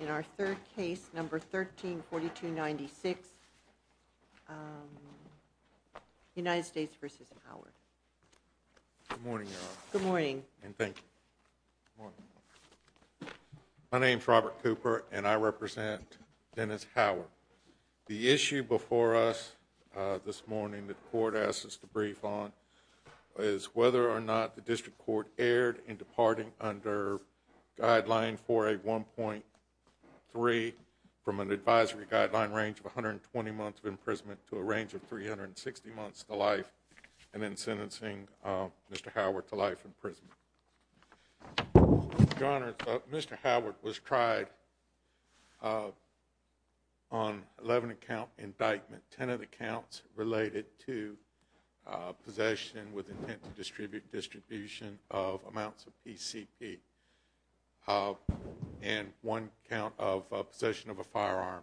in our third case number 134296 United States versus Howard. Good morning. Good morning and thank you. My name is Robert Cooper and I represent Dennis Howard. The issue before us this morning the court asked us to brief on is whether or not the district court erred in departing under guideline for a 1.3 from an advisory guideline range of 120 months of imprisonment to a range of 360 months to life and then sentencing Mr. Howard to life imprisonment. Your Honor, Mr. Howard was tried on 11 account indictment, 10 of the counts related to possession with intent to distribute distribution of amounts of PCP and one count of possession of a firearm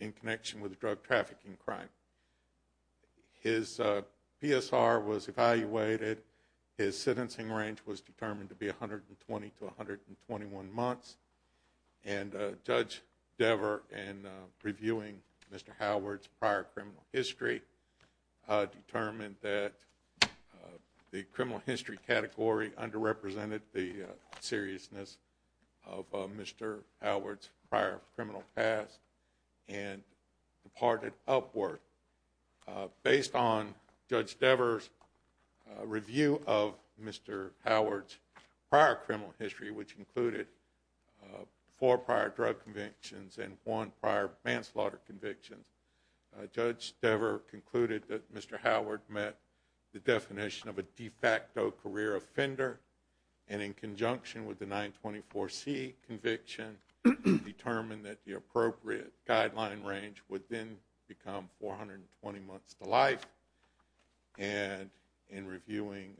in connection with drug trafficking crime. His PSR was evaluated. His sentencing range was determined to be 120 to 121 months and Judge Dever and reviewing Mr. Howard's prior criminal history determined that the criminal history category underrepresented the seriousness of Mr. Howard's prior criminal past and departed upward. Based on Judge Dever's review of Mr. Howard's prior criminal history which included four prior drug convictions and one prior manslaughter convictions, Judge Dever concluded that Mr. Howard met the definition of a de facto career offender and in conjunction with the 924c conviction determined that the appropriate guideline range would then become 420 months to life and in reviewing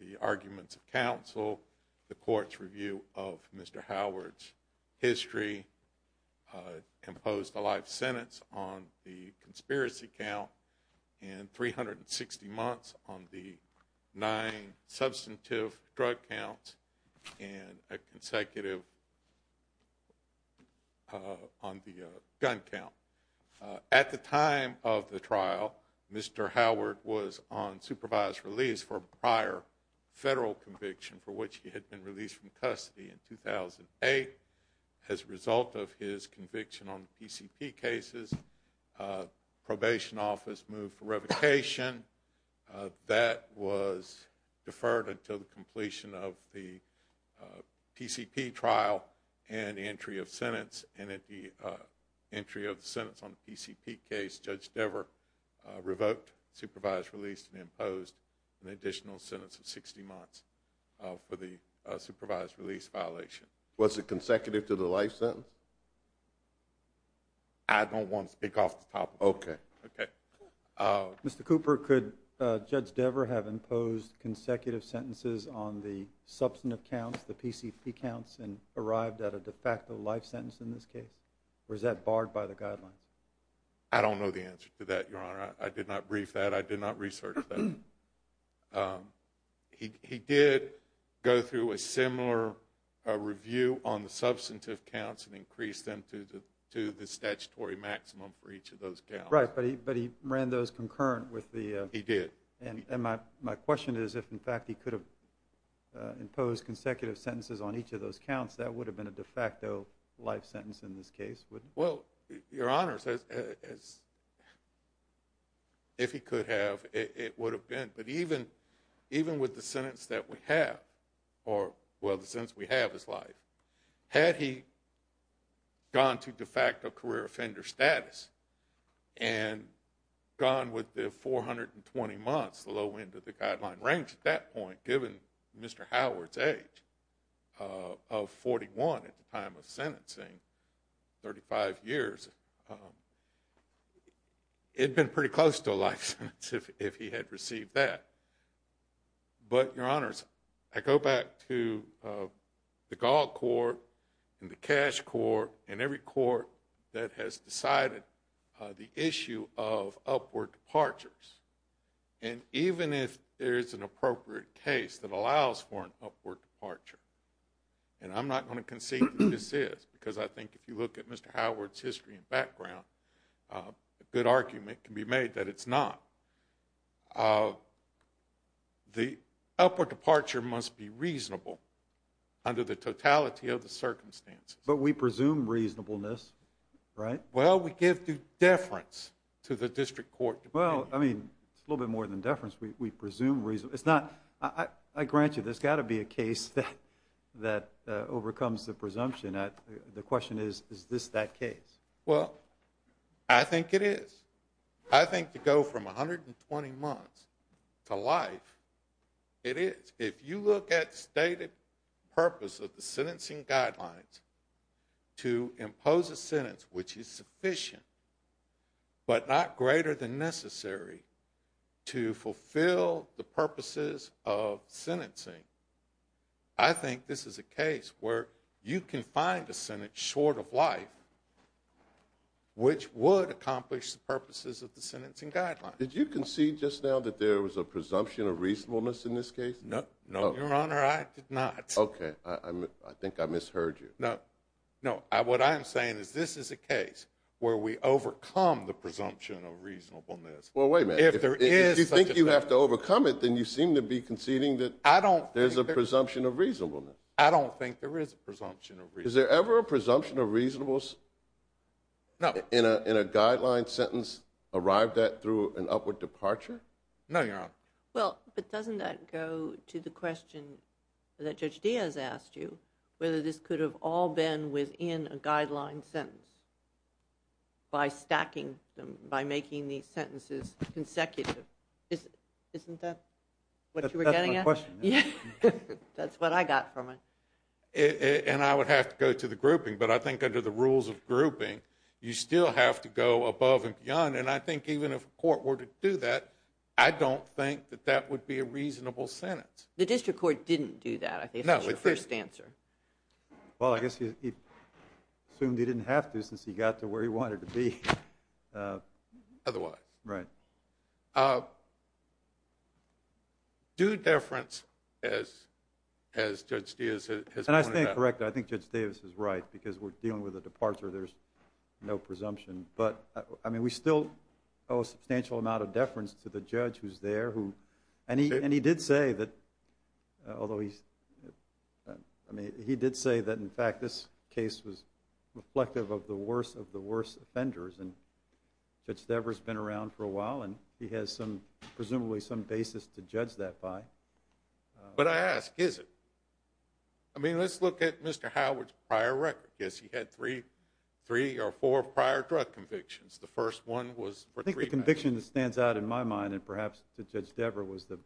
the arguments of counsel the court's review of Mr. Howard's criminal history imposed a life sentence on the conspiracy count and 360 months on the nine substantive drug counts and a consecutive on the gun count. At the time of the trial Mr. Howard was on supervised release for prior federal conviction for which he had been released from custody in 2008. As a result of his conviction on the PCP cases probation office moved for revocation that was deferred until the completion of the PCP trial and entry of sentence and at the entry of the sentence on the PCP case Judge Dever revoked supervised release and imposed an additional sentence of 60 months for the supervised release violation. Was it consecutive to the life sentence? I don't want to speak off the top. Okay. Okay. Mr. Cooper could Judge Dever have imposed consecutive sentences on the substantive counts the PCP counts and arrived at a de facto life sentence in this case or is that barred by the guidelines? I don't know the answer to that your He did go through a similar review on the substantive counts and increased them to the to the statutory maximum for each of those counts. Right but he but he ran those concurrent with the. He did. And my my question is if in fact he could have imposed consecutive sentences on each of those counts that would have been a de facto life sentence in this case. Well your it would have been but even even with the sentence that we have or well the sense we have his life had he gone to de facto career offender status and gone with the 420 months the low end of the guideline range at that point given Mr. Howard's age of 41 at the time of sentencing 35 years um it'd been pretty close to a life sentence if if he had received that but your honors I go back to the gall court and the cash court and every court that has decided the issue of upward departures and even if there is an appropriate case that allows for an upward departure and I'm not going to concede this is because I think if you look at Mr. Howard's history and background a good argument can be made that it's not uh the upward departure must be reasonable under the totality of the circumstances but we presume reasonableness right well we give due deference to the district court well I mean it's a little bit more than deference we presume reason it's not I I grant you there's got to be a case that that overcomes the presumption at the question is is this that case well I think it is I think to go from 120 months to life it is if you look at stated purpose of the sentencing guidelines to impose a sentence which is sufficient but not greater than necessary to fulfill the purposes of sentencing I think this is a case where you can find a sentence short of life which would accomplish the purposes of the sentencing guidelines did you concede just now that there was a presumption of reasonableness in this case no no your honor I did not okay I I think I misheard you no no I what I am saying is this is a case where we overcome the presumption of reasonableness well wait a minute if there is you think you have to overcome it then you seem to be conceding that I don't there's a presumption of reasonableness I don't think there is a presumption of reason is there ever a presumption of reasonableness no in a in a guideline sentence arrived that through an upward departure no your honor well but doesn't that go to the question that judge Diaz asked you whether this could have all been within a guideline sentence by stacking them by making these sentences consecutive isn't that what you were getting a question yeah that's what I got from it and I would have to go to the grouping but I think under the rules of grouping you still have to go above and beyond and I think even if court were to do that I don't think that that would be a reasonable sentence the district court didn't do that I think that's your first answer well I guess he assumed he didn't have to since he got to where he wanted to be otherwise right due deference as as judge Diaz and I think correct I think judge Davis is right because we're dealing with a departure there's no presumption but I mean we still owe a substantial amount of deference to the judge who's there who and he and he did say that although he's I mean he did say that in fact this case was reflective of the worst of the worst offenders and judge Devers been around for a while and he has some presumably some basis to judge that by but I ask is it I mean let's look at mr. Howard's prior record yes he had three three or four prior drug convictions the first one was conviction that stands out in my mind and perhaps the judge Dever was the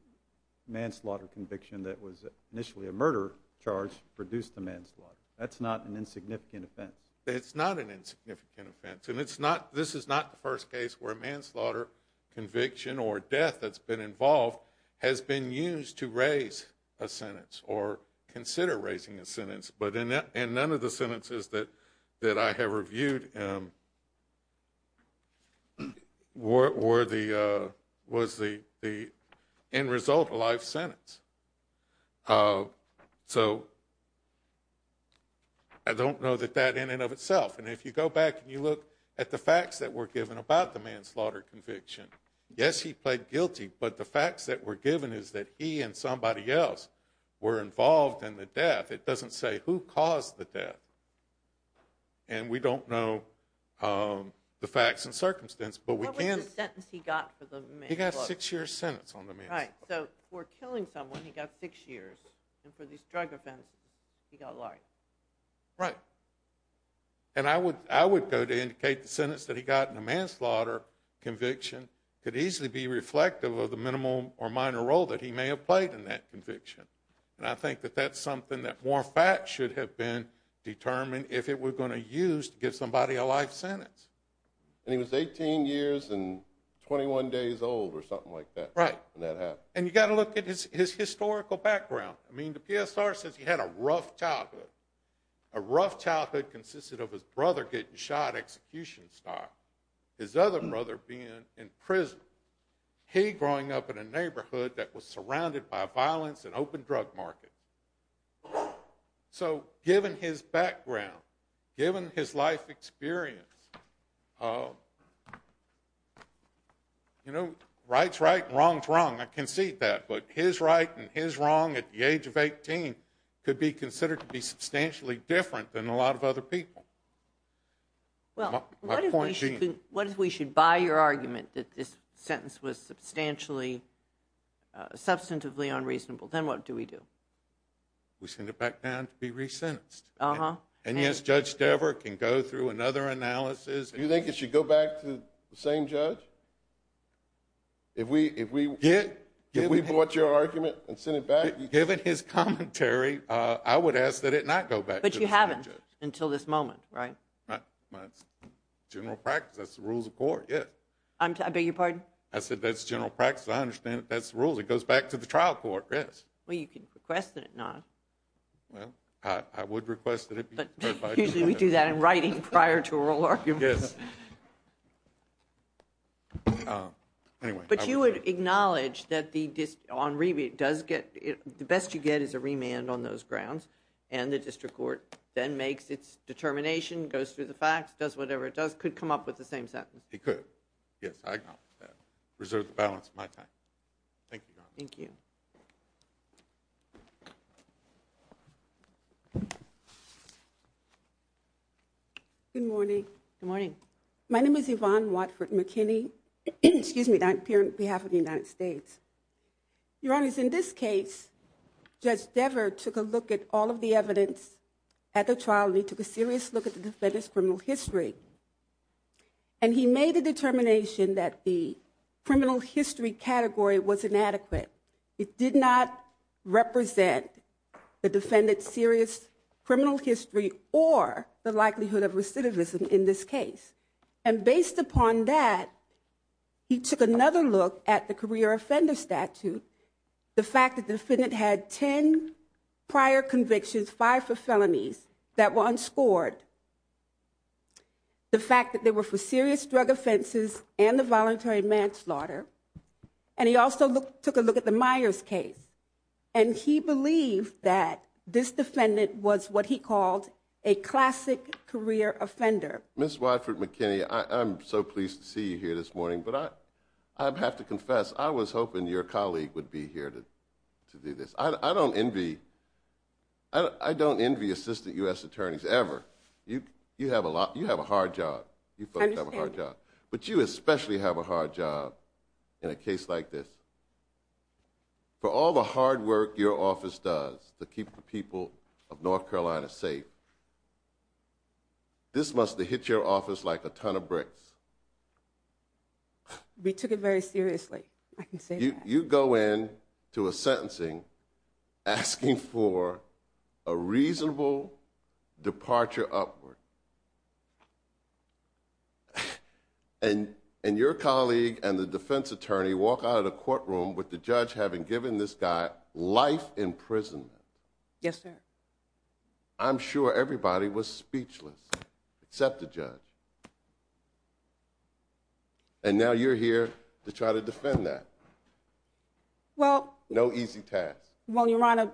manslaughter conviction that was initially a murder charge produced the manslaughter that's not an insignificant offense it's not an insignificant offense and it's not this is not the manslaughter conviction or death that's been involved has been used to raise a sentence or consider raising a sentence but in that and none of the sentences that that I have reviewed were the was the the end result of life sentence so I don't know that that in and of itself and if you go back and you look at the conviction yes he played guilty but the facts that were given is that he and somebody else were involved in the death it doesn't say who caused the death and we don't know the facts and circumstance but we can't sentence he got he got six years sentence on the me right so we're killing someone he got six years and for these drug offenses he got life right and I would I would go to indicate the manslaughter conviction could easily be reflective of the minimum or minor role that he may have played in that conviction and I think that that's something that more facts should have been determined if it were going to use to give somebody a life sentence and he was 18 years and 21 days old or something like that right and you got to look at his his historical background I mean the PSR says he had a rough childhood a rough childhood consisted of his brother getting shot execution style his other brother being in prison he growing up in a neighborhood that was surrounded by violence and open drug market so given his background given his life experience you know rights right wrong wrong I can see that but his right and his wrong at the age of 18 could be well what if we should buy your argument that this sentence was substantially substantively unreasonable then what do we do we send it back down to be resentenced uh-huh and yes judge Dever can go through another analysis you think it should go back to the same judge if we if we get give me what your argument and send it back given his commentary I would ask that it not go but you haven't until this moment right general practice that's the rules of court yes I'm I beg your pardon I said that's general practice I understand that's the rules it goes back to the trial court yes well you can request it not well I would request it but usually we do that in writing prior to a real argument but you would acknowledge that the disk on rebate does get it the best you get is a remand on those grounds and the district court then makes its determination goes through the facts does whatever it does could come up with the same sentence he could yes I reserve the balance of my time thank you thank you good morning good morning my name is Yvonne Watford McKinney excuse me that in this case judge Dever took a look at all of the evidence at the trial he took a serious look at the defendant's criminal history and he made a determination that the criminal history category was inadequate it did not represent the defendant's serious criminal history or the likelihood of recidivism in this case and based upon that he took another look at the career offender statute the fact that the defendant had ten prior convictions five for felonies that were unscored the fact that they were for serious drug offenses and the voluntary manslaughter and he also looked took a look at the Myers case and he believed that this defendant was what he called a classic career offender miss Watford McKinney I'm so pleased to see you here this morning but I I'd have to confess I was hoping your colleague would be here to do this I don't envy I don't envy assistant US attorneys ever you you have a lot you have a hard job but you especially have a hard job in a case like this for all the hard work your office does to keep the people of North of bricks we took it very seriously I can see you go in to a sentencing asking for a reasonable departure upward and and your colleague and the defense attorney walk out of the courtroom with the judge having given this guy life imprisonment I'm sure everybody was speechless except the judge and now you're here to try to defend that well no easy task well your honor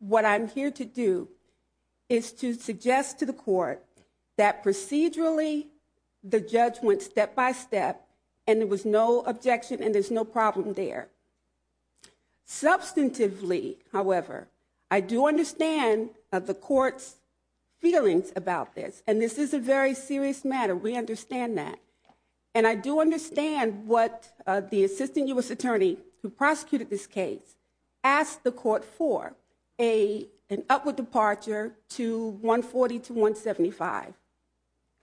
what I'm here to do is to suggest to the court that procedurally the judge went step by step and there was no objection and there's no problem there substantively however I do understand of the court's feelings about this and this is a very serious matter we understand that and I do understand what the assistant US attorney who prosecuted this case asked the court for a an upward departure to 140 to 175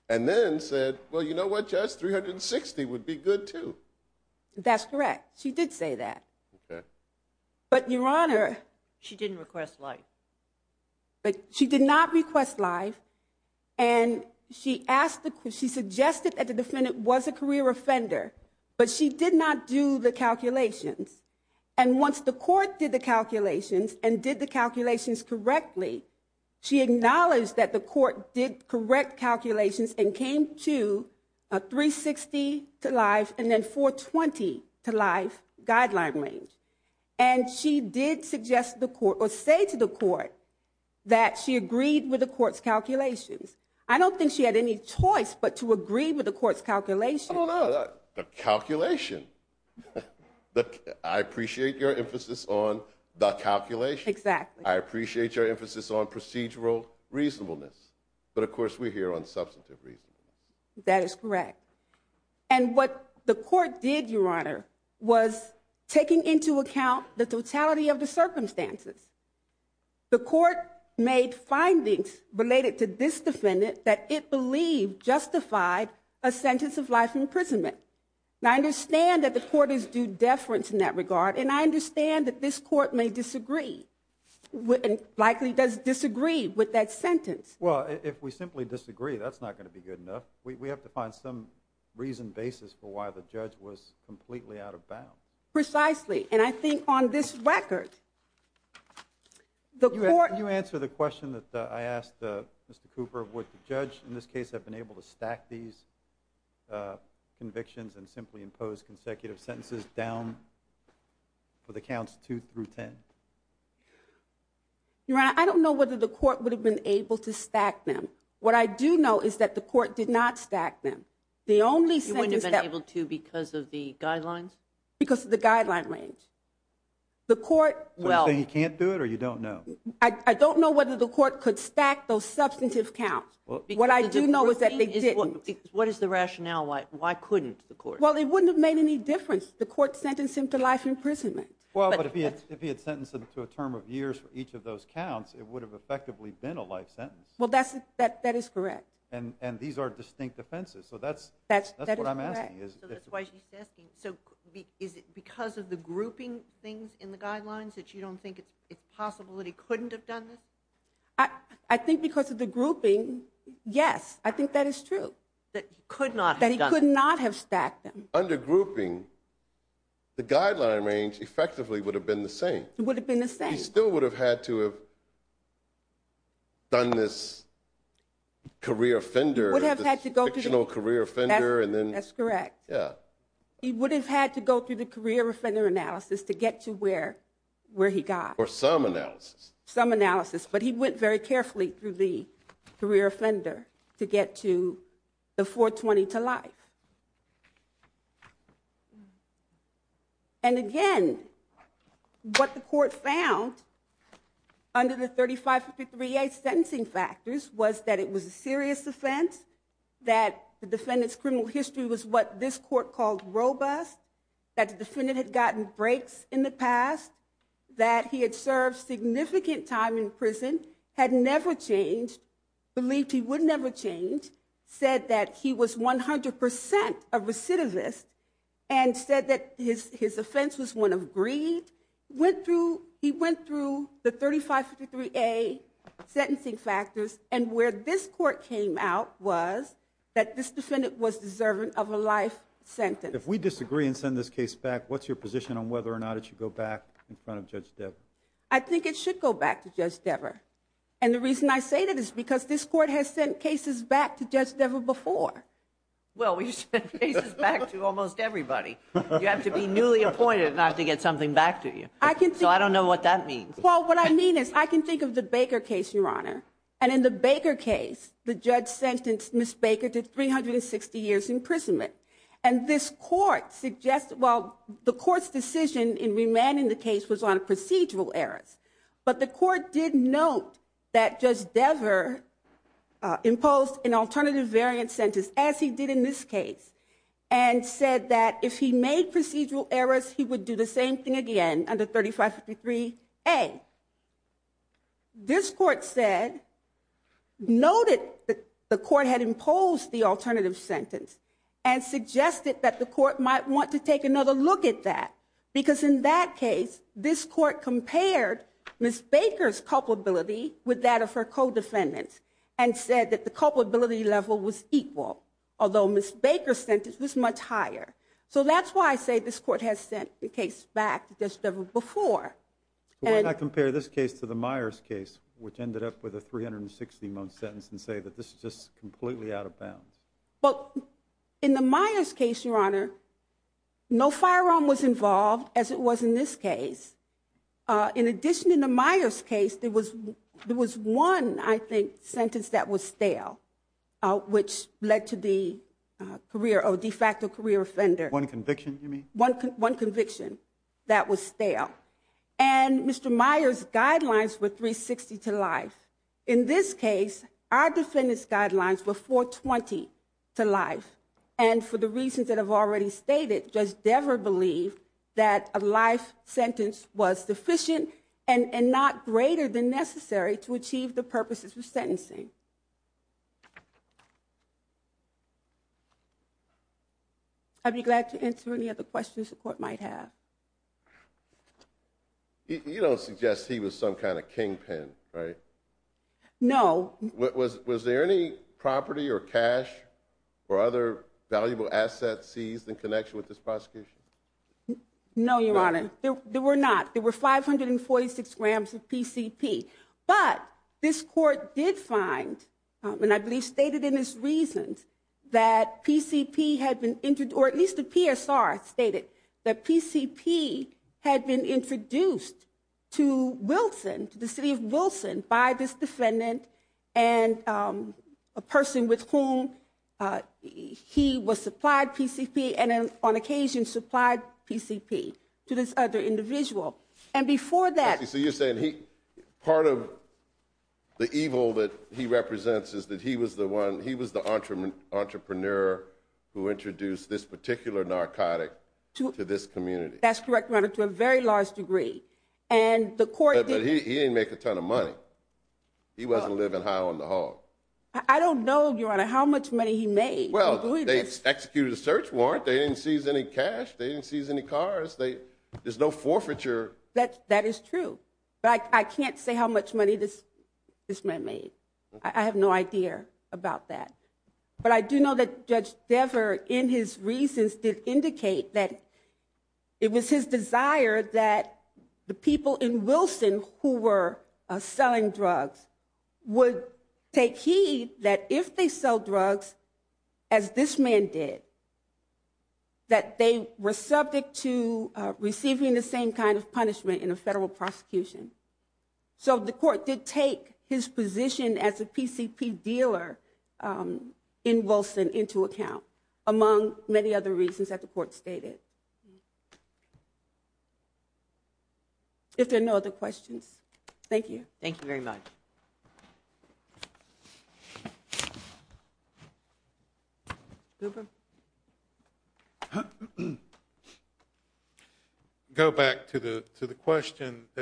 and then said well you know what just 360 would be good too that's she did say that but your honor she didn't request life but she did not request life and she asked the question suggested that the defendant was a career offender but she did not do the calculations and once the court did the calculations and did the calculations correctly she acknowledged that the life guideline range and she did suggest the court or say to the court that she agreed with the court's calculations I don't think she had any choice but to agree with the court's calculation calculation but I appreciate your emphasis on the calculation exactly I appreciate your emphasis on procedural reasonableness but of course we're here on substantive reason that is correct and what the court did your honor was taking into account the totality of the circumstances the court made findings related to this defendant that it believed justified a sentence of life imprisonment now I understand that the court is due deference in that regard and I understand that this court may disagree with and likely does disagree with that sentence well if we simply disagree that's not going to be good enough we have to find some reason basis for why the judge was completely out of bound precisely and I think on this record the court you answer the question that I asked mr. Cooper of what the judge in this case have been able to stack these convictions and simply impose consecutive sentences down for the counts two through ten you're right I don't know whether the court would have been able to stack them what I do know is that the court did not stack them the only sentence that able to because of the guidelines because the guideline range the court well you can't do it or you don't know I don't know whether the court could stack those substantive counts what I do know is that they did what is the rationale why why couldn't the court well it wouldn't have made any difference the court sentenced him to life imprisonment well but if he had sentenced him to a term of counts it would have effectively been a life sentence well that's that that is correct and and these are distinct offenses so that's that's why she's asking so is it because of the grouping things in the guidelines that you don't think it's possible that he couldn't have done this I I think because of the grouping yes I think that is true that could not that he could not have stacked them under grouping the guideline range effectively would have been the same it still would have had to have done this career offender would have had to go to no career offender and then that's correct yeah he would have had to go through the career offender analysis to get to where where he got or some analysis some analysis but he went very carefully through the career offender to under the 3553 a sentencing factors was that it was a serious offense that the defendants criminal history was what this court called robust that the defendant had gotten breaks in the past that he had served significant time in prison had never changed believed he would never change said that he was 100 percent of recidivist and said that his his offense was one of greed went through he went through the 3553 a sentencing factors and where this court came out was that this defendant was deserving of a life sentence if we disagree and send this case back what's your position on whether or not it should go back in front of Judge Debra I think it should go back to just ever and the reason I say that is because this court has sent cases back to just ever before well we should back to almost everybody you have to be newly appointed not to get something back to you I can't so I don't know what that means well what I mean is I can think of the Baker case your honor and in the Baker case the judge sentenced miss Baker to 360 years imprisonment and this court suggests well the court's decision in remaining the case was on a procedural errors but the court did note that just ever imposed an alternative variant sentence as he did in this case and said that if he made procedural errors he would do the same thing again under 3553 a this court said noted that the court had imposed the alternative sentence and suggested that the court might want to take another look at that because in that case this court compared miss Baker's culpability with that of her co-defendants and said that the culpability level was equal although miss Baker sentence was much higher so that's why I say this court has sent the case back to just ever before and I compare this case to the Myers case which ended up with a 360 month sentence and say that this is just completely out of bounds but in the Myers case your honor no firearm was involved as it was in this case in addition in the Myers case there was there was one I think sentence that was stale which led to the career of de facto career offender one conviction one conviction that was stale and Mr. Myers guidelines with 360 to life in this case our defendants guidelines before 20 to life and for the reasons that have already stated just ever believe that a life sentence was sufficient and not greater than necessary to achieve the purposes of sentencing I'd be glad to answer any other questions the court might have you don't suggest he was some kind of kingpin right no what was was there any property or cash or other valuable assets seized in connection with this prosecution no your honor there were not there were 546 grams of PCP but this court did find and I believe stated in his reasons that PCP had been injured or at least the PSR stated that PCP had been introduced to Wilson to the city of Wilson by this defendant and a person with whom he was supplied PCP and on occasion supplied PCP to this other individual and before that you see you saying he part of the evil that he represents is that he was the one he was the entrepreneur who introduced this particular narcotic to this community that's correct run it to a very large degree and the court didn't make a ton of money he wasn't living high on the hog I don't know your honor how much money he made well they executed a search warrant they didn't seize any cash they didn't seize any cars they there's no forfeiture that that is true but I can't say how much money this this man made I have no idea about that but I do know that judge Dever in his reasons did indicate that it was his desire that the people in Wilson who were selling drugs would take heed that if they sell drugs as this man did that they were subject to receiving the same kind of punishment in a federal prosecution so the court did take his position as a PCP dealer in Wilson into account among many other reasons that the court stated if there are no other question that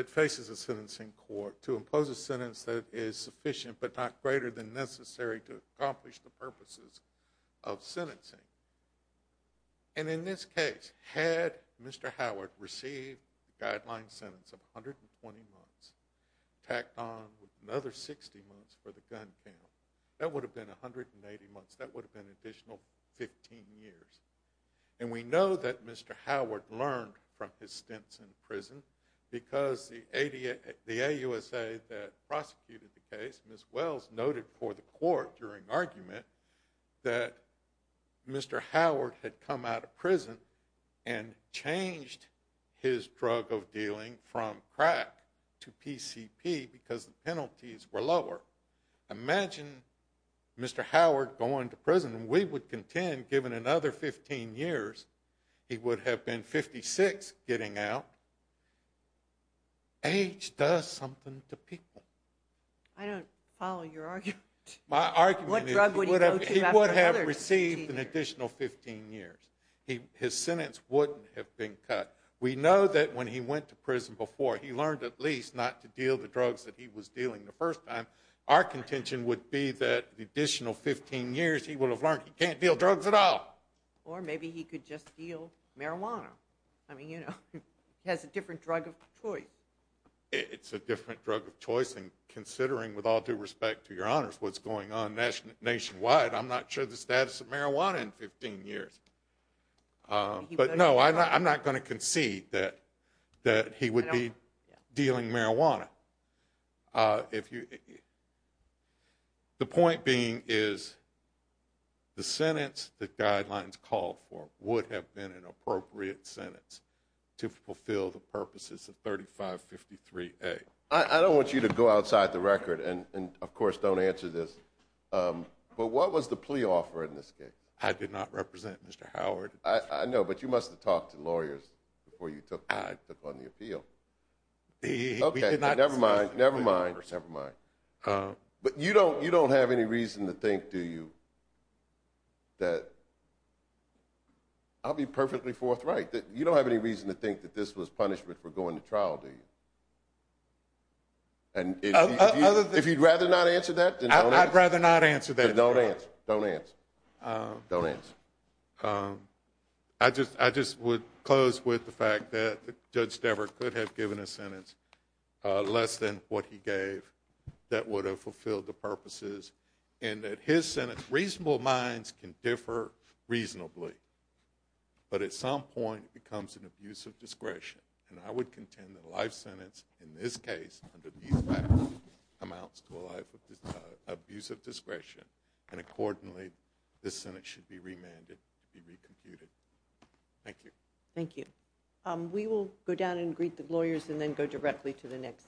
faces a sentence in court to impose a sentence that is sufficient but not greater than necessary to accomplish the purposes of sentencing and in this case had mr. Howard received guideline sentence of 120 months tacked on another 60 months for the gun that would have been 180 months that would have been additional 15 years and we know that mr. Howard learned from his because the ADA the a USA that prosecuted the case as well as noted for the court during argument that mr. Howard had come out of prison and changed his drug of dealing from crack to PCP because penalties were lower imagine mr. Howard going to prison we would contend given another 15 years he age does something to people I don't follow your argument my argument would have received an additional 15 years he his sentence wouldn't have been cut we know that when he went to prison before he learned at least not to deal the drugs that he was dealing the first time our contention would be that the additional 15 years he will have learned he can't deal drugs at all or maybe he could just deal marijuana I mean you know has a different drug of choice it's a different drug of choice and considering with all due respect to your honors what's going on nationally nationwide I'm not sure the status of marijuana in 15 years but no I'm not going to concede that that he would be dealing marijuana if you the point being is the sentence the guidelines called for would have been an appropriate sentence to fulfill the purposes of 35 53 a I don't want you to go outside the record and and of course don't answer this but what was the plea offer in this case I did not represent mr. Howard I know but you must have talked to lawyers before you took I took on the appeal okay never mind never mind never mind but you don't you don't have any reason to think do you that I'll be perfectly forthright that you don't have any reason to think that this was punishment for going to trial do you and if you'd rather not answer that I'd rather not answer that don't answer don't answer don't answer I just I just would close with the fact that judge never could have given a sentence less than what he gave that would have fulfilled the reasonable minds can differ reasonably but at some point it becomes an abuse of discretion and I would contend that a life sentence in this case amounts to a life of abuse of discretion and accordingly the Senate should be remanded to be recomputed thank you thank you we will go down and greet the lawyers and then go directly to the next